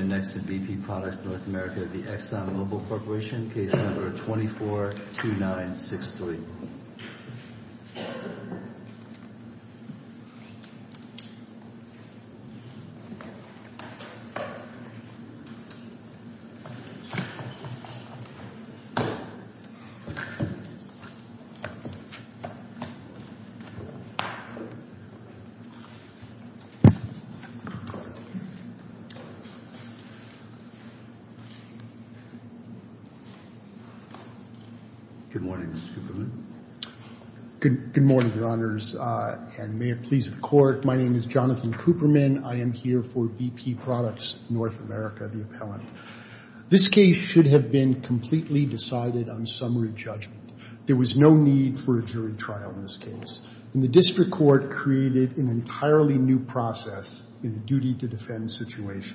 242963 Good morning, Mr. Cooperman. Good morning, Your Honors, and may it please the Court, my name is Jonathan Cooperman. I am here for BP Products North America, the appellant. This case should have been completely decided on summary judgment. There was no need for a jury trial in this case, and the District Court created an entirely new process in the case.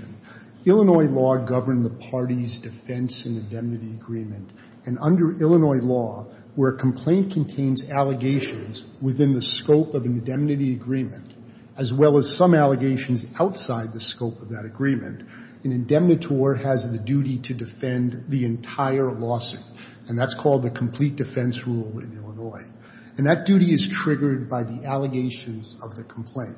Illinois law governed the parties' defense and indemnity agreement, and under Illinois law, where a complaint contains allegations within the scope of an indemnity agreement, as well as some allegations outside the scope of that agreement, an indemnitor has the duty to defend the entire lawsuit, and that's called the complete defense rule in Illinois. And that duty is triggered by the allegations of the complaint.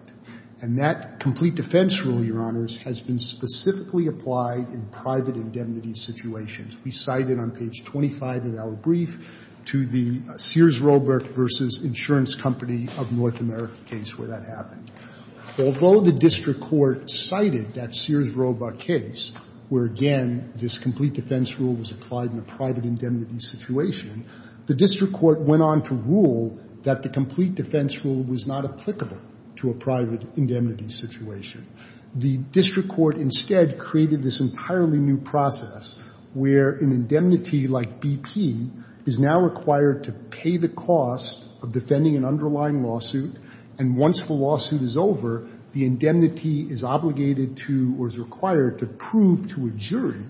And that complete defense rule, Your Honors, has been specifically applied in private indemnity situations. We cite it on page 25 of our brief to the Sears-Roebuck v. Insurance Company of North America case where that happened. Although the District Court cited that Sears-Roebuck case where, again, this complete defense rule was applied in a private indemnity situation, the District Court went on to rule that the complete defense rule was not The District Court instead created this entirely new process where an indemnity like BP is now required to pay the cost of defending an underlying lawsuit, and once the lawsuit is over, the indemnity is obligated to or is required to prove to a jury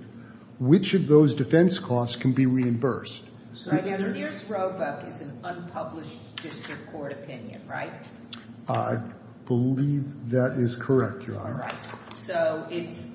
which of those defense costs can be reimbursed. So I guess Sears-Roebuck is an unpublished District Court opinion, right? I believe that is correct, Your Honor. Right. So it's,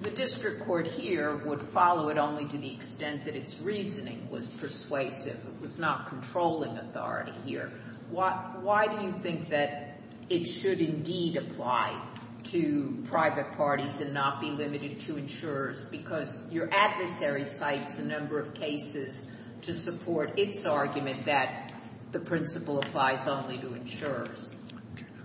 the District Court here would follow it only to the extent that its reasoning was persuasive. It was not controlling authority here. Why do you think that it should indeed apply to private parties and not be limited to insurers? Because your adversary cites a number of cases to support its argument that the principle applies only to insurers.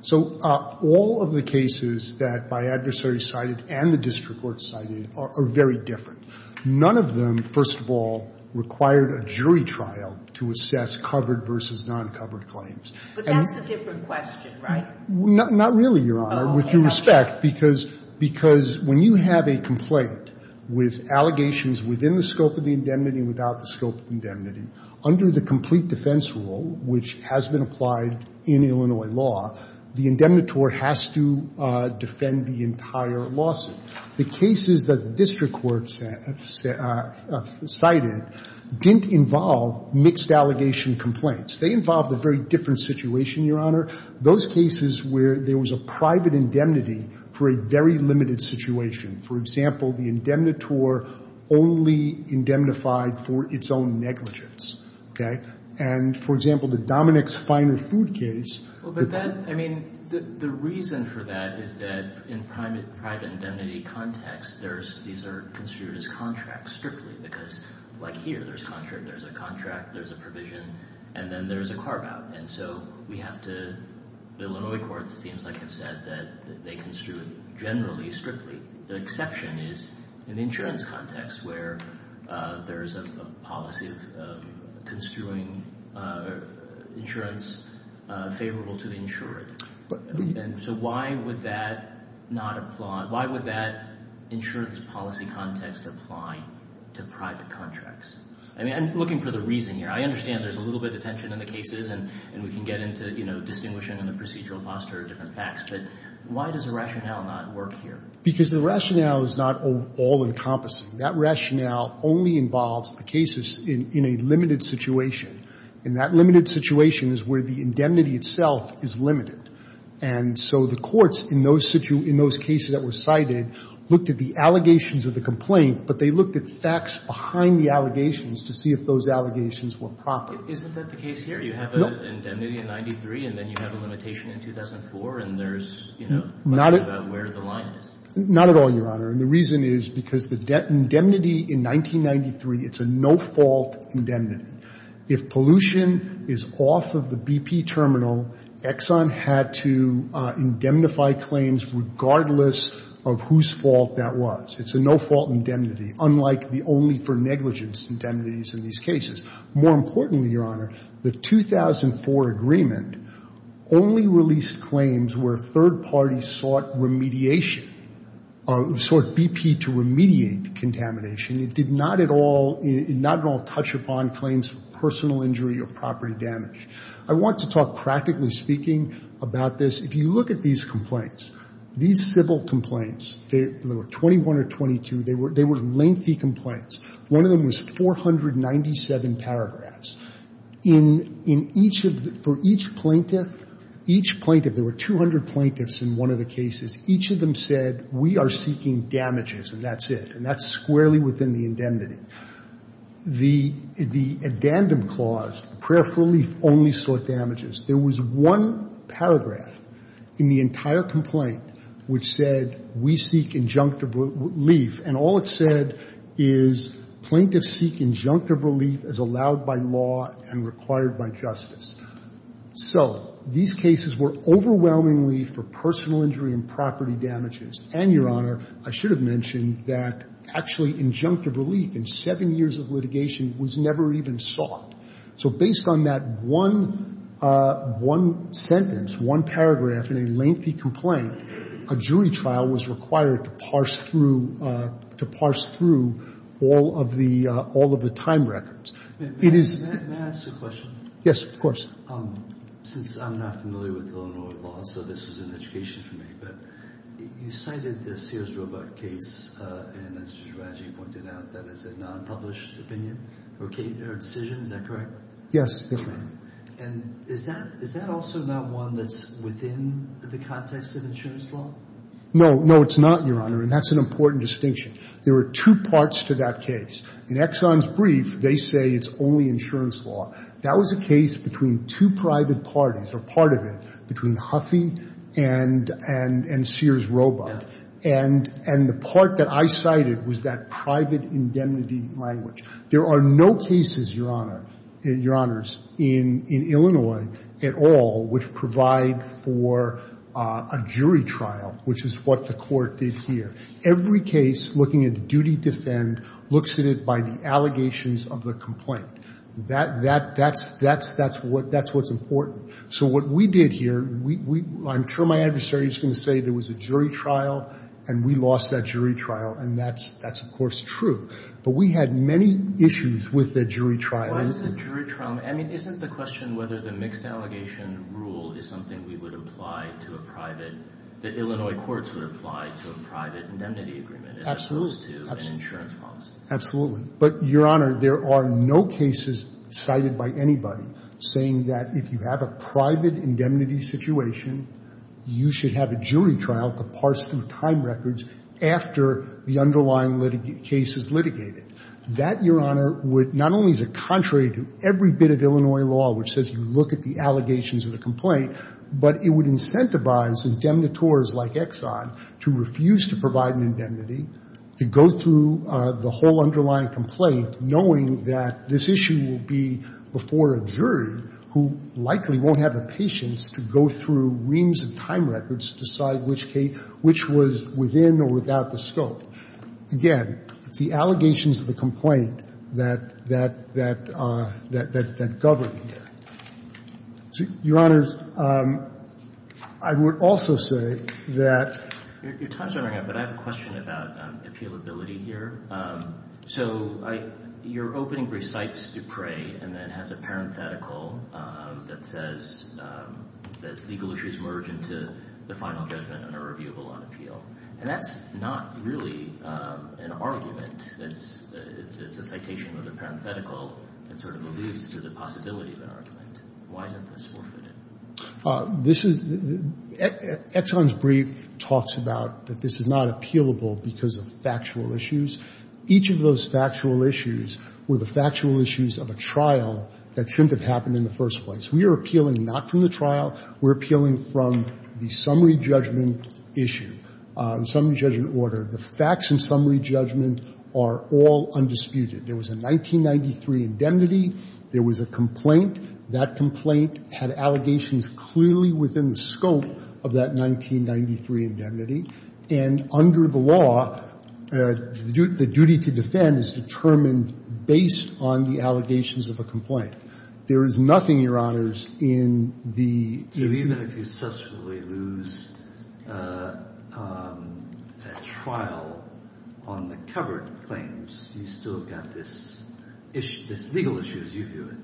So all of the cases that my adversary cited and the District Court cited are very different. None of them, first of all, required a jury trial to assess covered versus non-covered claims. But that's a different question, right? Not really, Your Honor, with due respect, because when you have a complaint with allegations within the scope of the indemnity and without the scope of the case that has been applied in Illinois law, the indemnitor has to defend the entire lawsuit. The cases that the District Court cited didn't involve mixed-allegation complaints. They involved a very different situation, Your Honor, those cases where there was a private indemnity for a very limited situation. For example, the indemnitor only indemnified for its own negligence, okay? And, for example, the finer food case that the District Court cited, it was a finer food Well, but that — I mean, the reason for that is that in private indemnity context, there's — these are construed as contracts, strictly, because, like here, there's a contract, there's a provision, and then there's a carve-out. And so we have to — the Illinois courts, it seems like, have said that they construe it generally, favorable to the insurer. And so why would that not apply — why would that insurer's policy context apply to private contracts? I mean, I'm looking for the reason here. I understand there's a little bit of tension in the cases, and we can get into, you know, distinguishing the procedural posture of different facts, but why does the rationale not work here? Because the rationale is not all-encompassing. That rationale only involves the cases in a limited situation. And that limited situation is where the indemnity itself is limited. And so the courts, in those cases that were cited, looked at the allegations of the complaint, but they looked at the facts behind the allegations to see if those allegations were proper. Isn't that the case here? You have an indemnity in 93, and then you have a limitation in 2004, and there's, you know, a question about where the line is. Not at all, Your Honor. And the reason is because the indemnity in 1993, it's a no-fault indemnity. If pollution is off of the BP terminal, Exxon had to indemnify claims regardless of whose fault that was. It's a no-fault indemnity, unlike the only-for-negligence indemnities in these cases. More importantly, Your Honor, the 2004 agreement only released claims where third parties sought remediation, sought BP to remediate contamination. It did not at all touch upon claims of personal injury or property damage. I want to talk, practically speaking, about this. If you look at these complaints, these civil complaints, there were 21 or 22, they were lengthy complaints. One of them was 497 paragraphs. In each of the — for each plaintiff, each plaintiff — there were 200 plaintiffs in one of the cases. Each of them said, we are seeking damages, and that's it. And that's squarely within the indemnity. The addendum clause, the prayer for relief only sought damages, there was one paragraph in the entire complaint which said, we seek injunctive relief. And all it said is, plaintiffs seek injunctive relief as allowed by law and required by justice. So these cases were overwhelmingly for personal injury and property damages. And, Your Honor, I should have mentioned that actually injunctive relief in seven years of litigation was never even sought. So based on that one — one sentence, one paragraph in a lengthy complaint, a jury trial was required to parse through — to parse through all of the — all of the time records. It is — Can I ask you a question? Yes, of course. Since I'm not familiar with Illinois law, so this was an education for me, but you cited the Sears-Robach case, and as Judge Radji pointed out, that is a nonpublished opinion or decision. Is that correct? Yes, Your Honor. And is that — is that also not one that's within the context of insurance law? No. No, it's not, Your Honor, and that's an important distinction. There are two parts to that case. In Exxon's brief, they say it's only insurance law. That was a case between two private parties, or part of it, between Huffey and — and Sears-Robach. And the part that I cited was that private indemnity language. There are no cases, Your Honor — Your Honors, in — in Illinois at all which provide for a jury trial, which is what the Court did here. Every case looking at the duty to defend looks at it by the allegations of the complaint. That — that — that's — that's — that's what — that's what's important. So what we did here, we — I'm sure my adversary is going to say there was a jury trial, and we lost that jury trial, and that's — that's, of course, true. But we had many issues with the jury trial. Why is it jury trial? I mean, isn't the question whether the mixed-allegation rule is something we would apply to a private — that Illinois courts would apply to a private indemnity agreement as opposed to an insurance policy? Absolutely. Absolutely. But, Your Honor, there are no cases cited by anybody saying that if you have a private indemnity situation, you should have a jury trial to parse the time records after the underlying case is litigated. That, Your Honor, would not only be contrary to every bit of Illinois law which says you look at the allegations of the complaint, but it would incentivize indemnitores like Exxon to refuse to provide an indemnity, to go through the whole underlying complaint knowing that this issue will be before a jury who likely won't have the time records to decide which was within or without the scope. Again, it's the allegations of the complaint that govern here. Your Honors, I would also say that — Your time is running out, but I have a question about appealability here. So your opening recites Dupre and then has a parenthetical that says that legal issues merge into the final judgment on a reviewable on appeal. And that's not really an argument. It's a citation with a parenthetical that sort of alludes to the possibility of an argument. Why isn't this forfeited? This is — Exxon's brief talks about that this is not appealable because of factual issues. Each of those factual issues were the factual issues of a trial that shouldn't have happened in the first place. We are appealing not from the trial. We're appealing from the summary judgment issue, the summary judgment order. The facts in summary judgment are all undisputed. There was a 1993 indemnity. There was a complaint. That complaint had allegations clearly within the scope of that 1993 indemnity. And under the law, the duty to defend is determined based on the allegations of a complaint. There is nothing, Your Honors, in the — Even if you subsequently lose a trial on the covered claims, you still have got this legal issue, as you view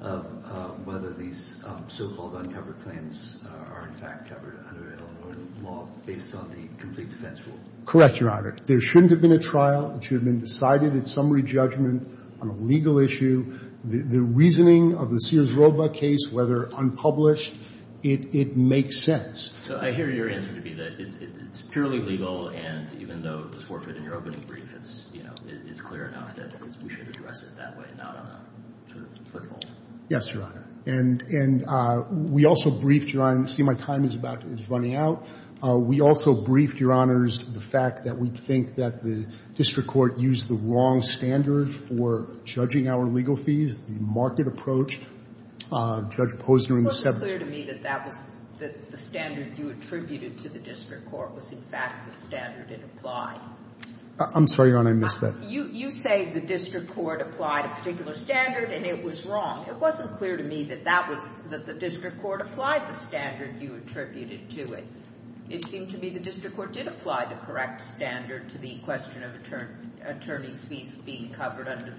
it, of whether these so-called uncovered claims are in fact covered under Illinois law based on the complete defense rule. Correct, Your Honor. There shouldn't have been a trial. It should have been decided in summary judgment on a legal issue. The reasoning of the Sears-Roba case, whether unpublished, it makes sense. So I hear your answer to be that it's purely legal, and even though the forfeit in your opening brief is, you know, it's clear enough that we should address it that way, not on a sort of flip-flop. Yes, Your Honor. And we also briefed — I see my time is about — is running out. We also briefed, Your Honors, the fact that we think that the district court used the wrong standard for judging our legal fees, the market approach. Judge Posner in the — It wasn't clear to me that that was — that the standard you attributed to the district court was, in fact, the standard it applied. I'm sorry, Your Honor. I missed that. You say the district court applied a particular standard, and it was wrong. It wasn't clear to me that that was — that the district court applied the standard you attributed to it. It seemed to me the district court did apply the correct standard to the question of attorneys' fees being covered under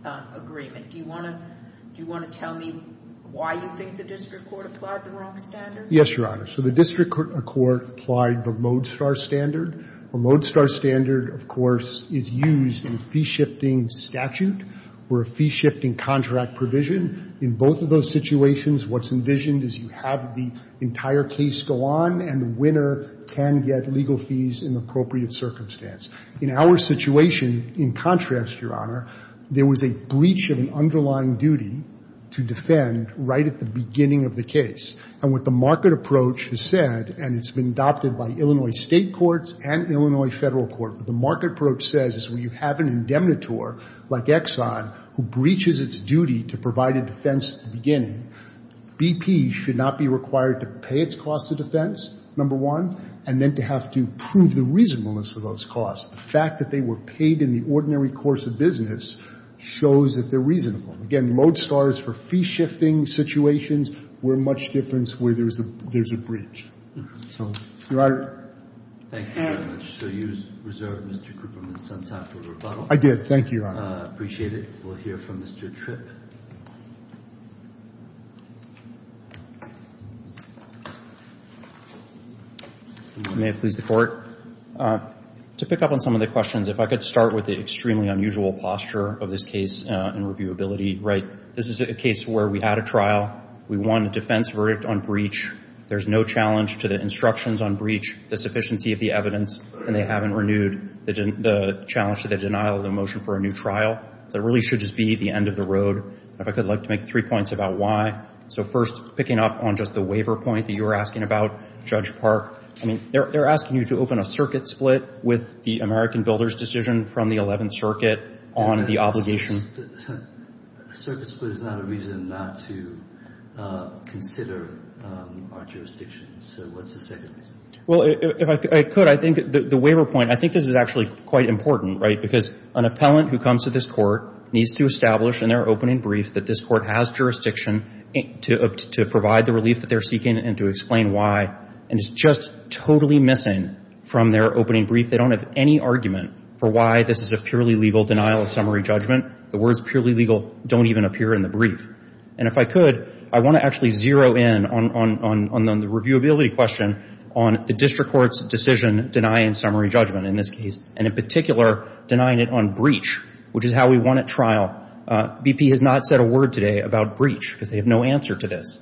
the agreement. Do you want to — do you want to tell me why you think the district court applied the wrong standard? Yes, Your Honor. So the district court applied the lodestar standard. The lodestar standard, of course, is used in a fee-shifting statute or a fee-shifting contract provision. In both of those situations, what's envisioned is you have the entire case go on, and the winner can get legal fees in the appropriate circumstance. In our situation, in contrast, Your Honor, there was a breach of an underlying duty to defend right at the beginning of the case. And what the market approach has said, and it's been adopted by Illinois State courts and Illinois Federal court, what the market approach says is when you have an indemnitor like Exxon who breaches its duty to provide a defense at the beginning, BP should not be required to pay its cost of defense, number one, and then to have to prove the reasonableness of those costs. The fact that they were paid in the ordinary course of business shows that they're reasonable. Again, lodestar is for fee-shifting situations where much difference where there's a — there's a breach. So, Your Honor. Thank you very much. So you reserved, Mr. Krupperman, some time for rebuttal. I did. Thank you, Your Honor. I appreciate it. We'll hear from Mr. Tripp. May it please the Court. To pick up on some of the questions, if I could start with the extremely unusual posture of this case in reviewability. Right. This is a case where we had a trial. We won a defense verdict on breach. There's no challenge to the instructions on breach, the sufficiency of the evidence, and they haven't renewed the challenge to the denial of the motion for a new trial. That really should just be the end of the road. If I could like to make three points about why. So, first, picking up on just the waiver point that you were asking about, Judge Park. I mean, they're asking you to open a circuit split with the American Builders decision from the 11th Circuit on the obligation. Circuit split is not a reason not to consider our jurisdiction. So what's the second reason? Well, if I could, I think the waiver point, I think this is actually quite important, right? This court needs to establish in their opening brief that this court has jurisdiction to provide the relief that they're seeking and to explain why. And it's just totally missing from their opening brief. They don't have any argument for why this is a purely legal denial of summary judgment. The words purely legal don't even appear in the brief. And if I could, I want to actually zero in on the reviewability question on the district court's decision denying summary judgment in this case, and in particular denying it on breach, which is how we won at trial. BP has not said a word today about breach because they have no answer to this.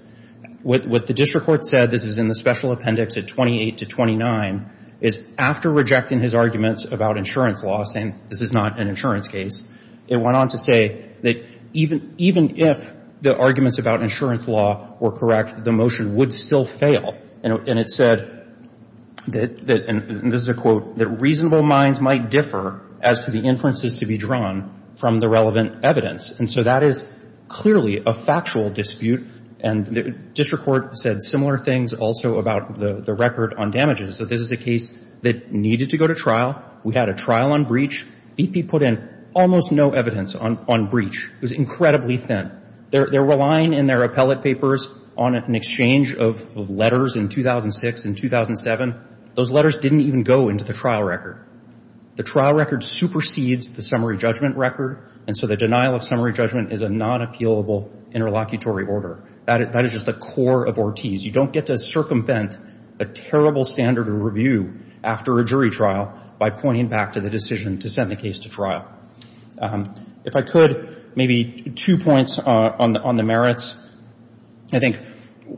What the district court said, this is in the special appendix at 28 to 29, is after rejecting his arguments about insurance law, saying this is not an insurance case, it went on to say that even if the arguments about insurance law were correct, the motion would still fail. And it said that, and this is a quote, that reasonable minds might differ as to the inferences to be drawn from the relevant evidence. And so that is clearly a factual dispute. And the district court said similar things also about the record on damages. So this is a case that needed to go to trial. We had a trial on breach. BP put in almost no evidence on breach. It was incredibly thin. There were line in their appellate papers on an exchange of letters in 2006 and 2007. Those letters didn't even go into the trial record. The trial record supersedes the summary judgment record. And so the denial of summary judgment is a non-appealable interlocutory order. That is just the core of Ortiz. You don't get to circumvent a terrible standard of review after a jury trial by pointing back to the decision to send the case to trial. If I could, maybe two points on the merits. I think,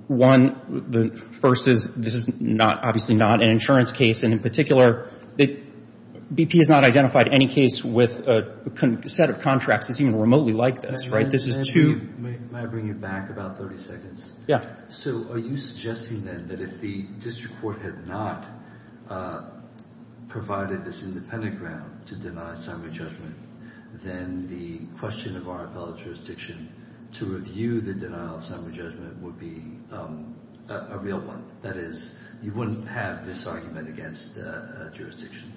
one, the first is this is not, obviously not an insurance case. And, in particular, BP has not identified any case with a set of contracts that's even remotely like this, right? This is too — May I bring you back about 30 seconds? Yeah. So are you suggesting then that if the district court had not provided this independent ground to deny summary judgment, then the question of our appellate jurisdiction to review the denial of summary judgment would be a real one? That is, you wouldn't have this argument against jurisdiction?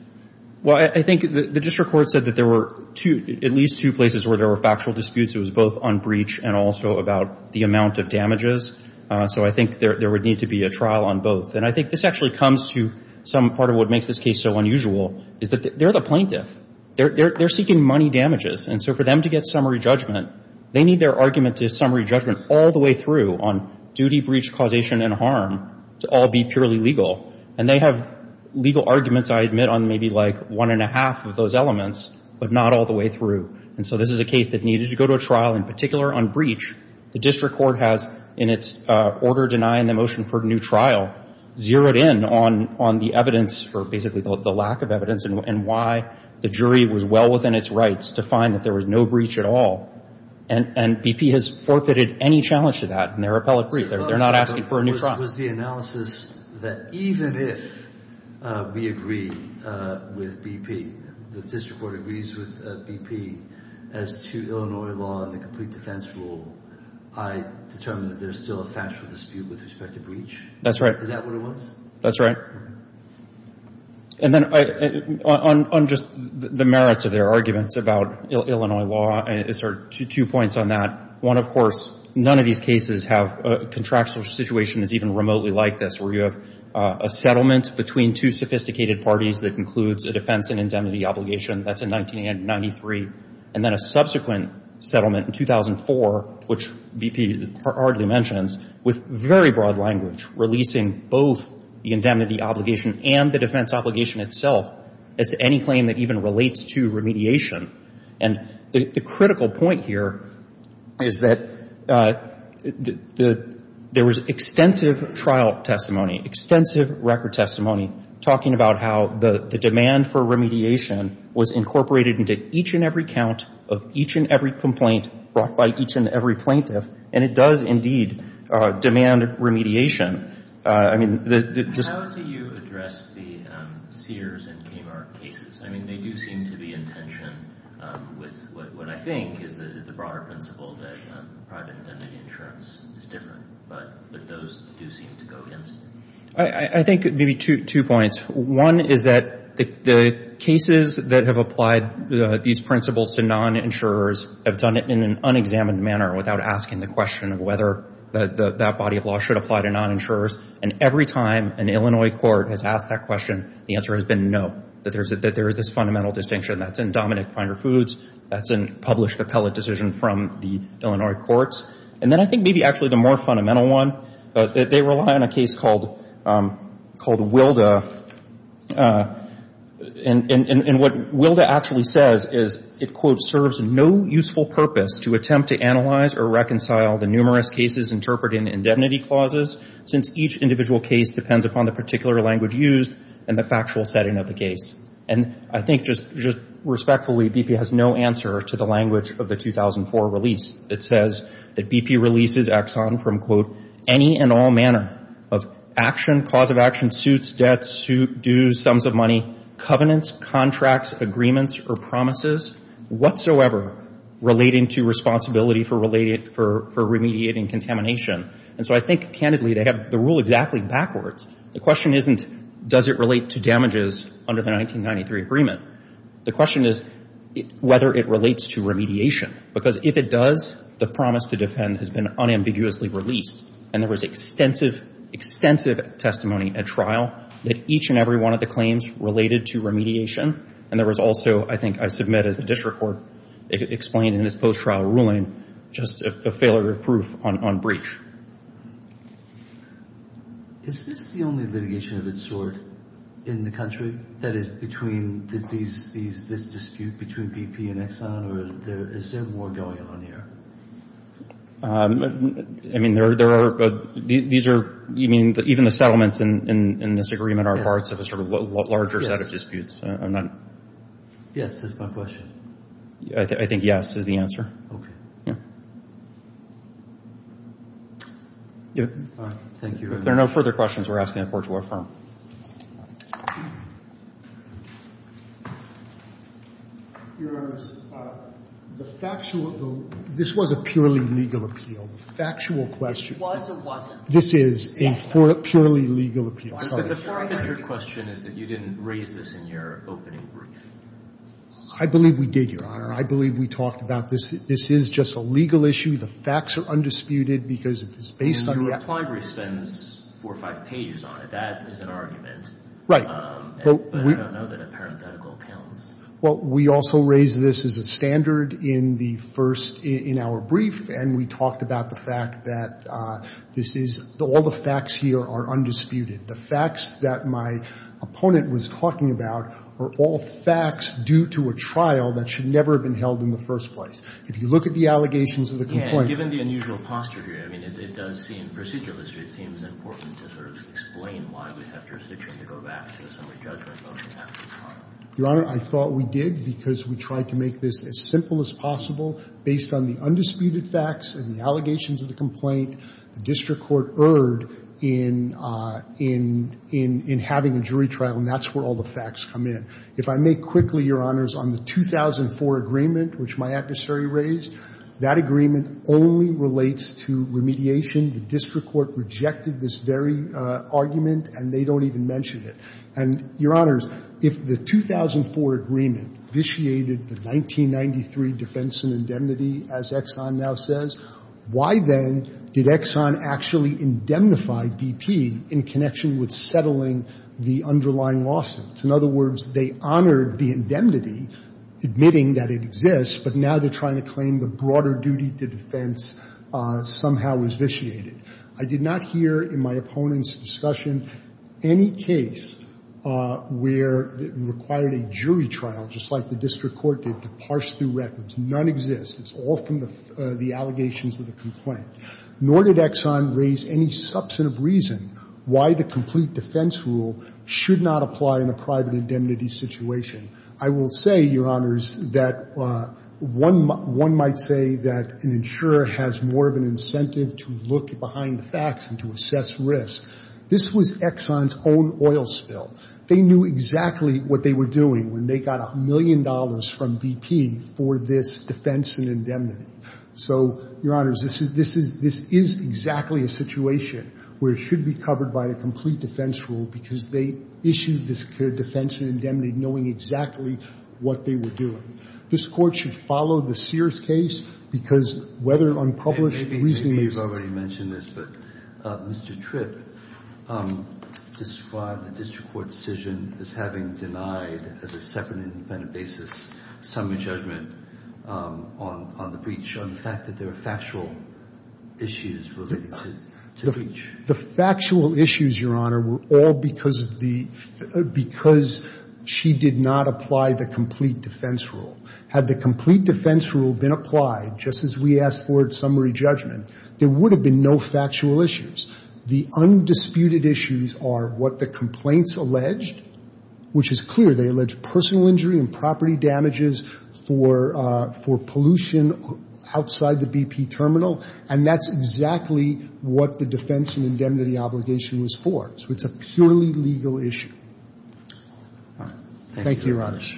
Well, I think the district court said that there were at least two places where there were factual disputes. It was both on breach and also about the amount of damages. So I think there would need to be a trial on both. And I think this actually comes to some part of what makes this case so unusual, is that they're the plaintiff. They're seeking money damages. And so for them to get summary judgment, they need their argument to summary judgment on duty, breach, causation, and harm to all be purely legal. And they have legal arguments, I admit, on maybe like one and a half of those elements, but not all the way through. And so this is a case that needed to go to a trial. In particular, on breach, the district court has, in its order denying the motion for a new trial, zeroed in on the evidence for basically the lack of evidence and why the jury was well within its rights to find that there was no breach at all. And BP has forfeited any challenge to that. And they're appellate brief there. They're not asking for a new trial. Was the analysis that even if we agree with BP, the district court agrees with BP, as to Illinois law and the complete defense rule, I determine that there's still a factual dispute with respect to breach? That's right. Is that what it was? That's right. And then on just the merits of their arguments about Illinois law, two points on that. One, of course, none of these cases have a contractual situation that's even remotely like this, where you have a settlement between two sophisticated parties that concludes a defense and indemnity obligation. That's in 1993. And then a subsequent settlement in 2004, which BP hardly mentions, with very broad language releasing both the indemnity obligation and the defense obligation itself as to any claim that even relates to remediation. And the critical point here is that there was extensive trial testimony, extensive record testimony talking about how the demand for remediation was incorporated into each and every count of each and every complaint brought by each and every plaintiff. And it does, indeed, demand remediation. How do you address the Sears and Kmart cases? I mean, they do seem to be in tension with what I think is the broader principle that private indemnity insurance is different, but those do seem to go against it. I think maybe two points. One is that the cases that have applied these principles to non-insurers have done it in an unexamined manner without asking the question of whether that body of law should apply to non-insurers. And every time an Illinois court has asked that question, the answer has been no, that there is this fundamental distinction. That's in Dominic Finder Foods. That's in published appellate decision from the Illinois courts. And then I think maybe actually the more fundamental one, that they rely on a case called Wilda. And what Wilda actually says is it, quote, serves no useful purpose to attempt to analyze or reconcile the numerous cases interpreted in indemnity clauses since each individual case depends upon the particular language used and the factual setting of the case. And I think just respectfully BP has no answer to the language of the 2004 release that says that BP releases Exxon from, quote, any and all manner of action, cause of action, suits, debts, dues, sums of money, covenants, contracts, agreements, or promises whatsoever relating to responsibility for remediating contamination. And so I think, candidly, they have the rule exactly backwards. The question isn't does it relate to damages under the 1993 agreement. The question is whether it relates to remediation. Because if it does, the promise to defend has been unambiguously released. And there was extensive, extensive testimony at trial that each and every one of the claims related to remediation. And there was also, I think I submit as the district court explained in this post-trial ruling, just a failure of proof on breach. Is this the only litigation of its sort in the country that is between these, this dispute between BP and Exxon? Or is there more going on here? I mean, there are, these are, you mean, even the settlements in this agreement are parts of a sort of larger set of disputes. I'm not. Yes, that's my question. I think yes is the answer. Okay. Yeah. All right. Thank you. If there are no further questions, we're asking the court to affirm. Your Honor, the factual, this was a purely legal appeal. The factual question. It was or wasn't? This is a purely legal appeal. Sorry. But the four hundred question is that you didn't raise this in your opening brief. I believe we did, Your Honor. I believe we talked about this. This is just a legal issue. The facts are undisputed because it is based on the actual. Well, the implied brief spends four or five pages on it. That is an argument. Right. But I don't know that a parenthetical counts. Well, we also raised this as a standard in the first, in our brief, and we talked about the fact that this is, all the facts here are undisputed. The facts that my opponent was talking about are all facts due to a trial that should never have been held in the first place. If you look at the allegations of the complaint. And given the unusual posture here, I mean, it does seem procedurally, it seems important to sort of explain why we have jurisdiction to go back to the summary judgment motion after the trial. Your Honor, I thought we did because we tried to make this as simple as possible based on the undisputed facts and the allegations of the complaint the district court erred in having a jury trial, and that's where all the facts come in. If I may quickly, Your Honors, on the 2004 agreement which my adversary raised, that agreement only relates to remediation. The district court rejected this very argument, and they don't even mention it. And, Your Honors, if the 2004 agreement vitiated the 1993 defense and indemnity, as Exxon now says, why then did Exxon actually indemnify BP in connection with settling the underlying lawsuits? In other words, they honored the indemnity, admitting that it exists, but now they're trying to claim the broader duty to defense somehow was vitiated. I did not hear in my opponent's discussion any case where it required a jury trial, just like the district court did, to parse through records. None exists. It's all from the allegations of the complaint. Nor did Exxon raise any substantive reason why the complete defense rule should not apply in a private indemnity situation. I will say, Your Honors, that one might say that an insurer has more of an incentive to look behind the facts and to assess risk. This was Exxon's own oil spill. They knew exactly what they were doing when they got a million dollars from BP for this defense and indemnity. So, Your Honors, this is exactly a situation where it should be covered by a complete defense rule because they issued this clear defense and indemnity knowing exactly what they were doing. This Court should follow the Sears case because whether unpublished reasoning makes sense. Maybe you've already mentioned this, but Mr. Tripp described the district court's decision as having denied, as a separate and independent basis, summary judgment on the breach, on the fact that there are factual issues related to the breach. The factual issues, Your Honor, were all because of the – because she did not apply the complete defense rule. Had the complete defense rule been applied just as we asked for at summary judgment, there would have been no factual issues. The undisputed issues are what the complaints alleged, which is clear. They allege personal injury and property damages for pollution outside the BP terminal. And that's exactly what the defense and indemnity obligation was for. So it's a purely legal issue. Thank you, Your Honors.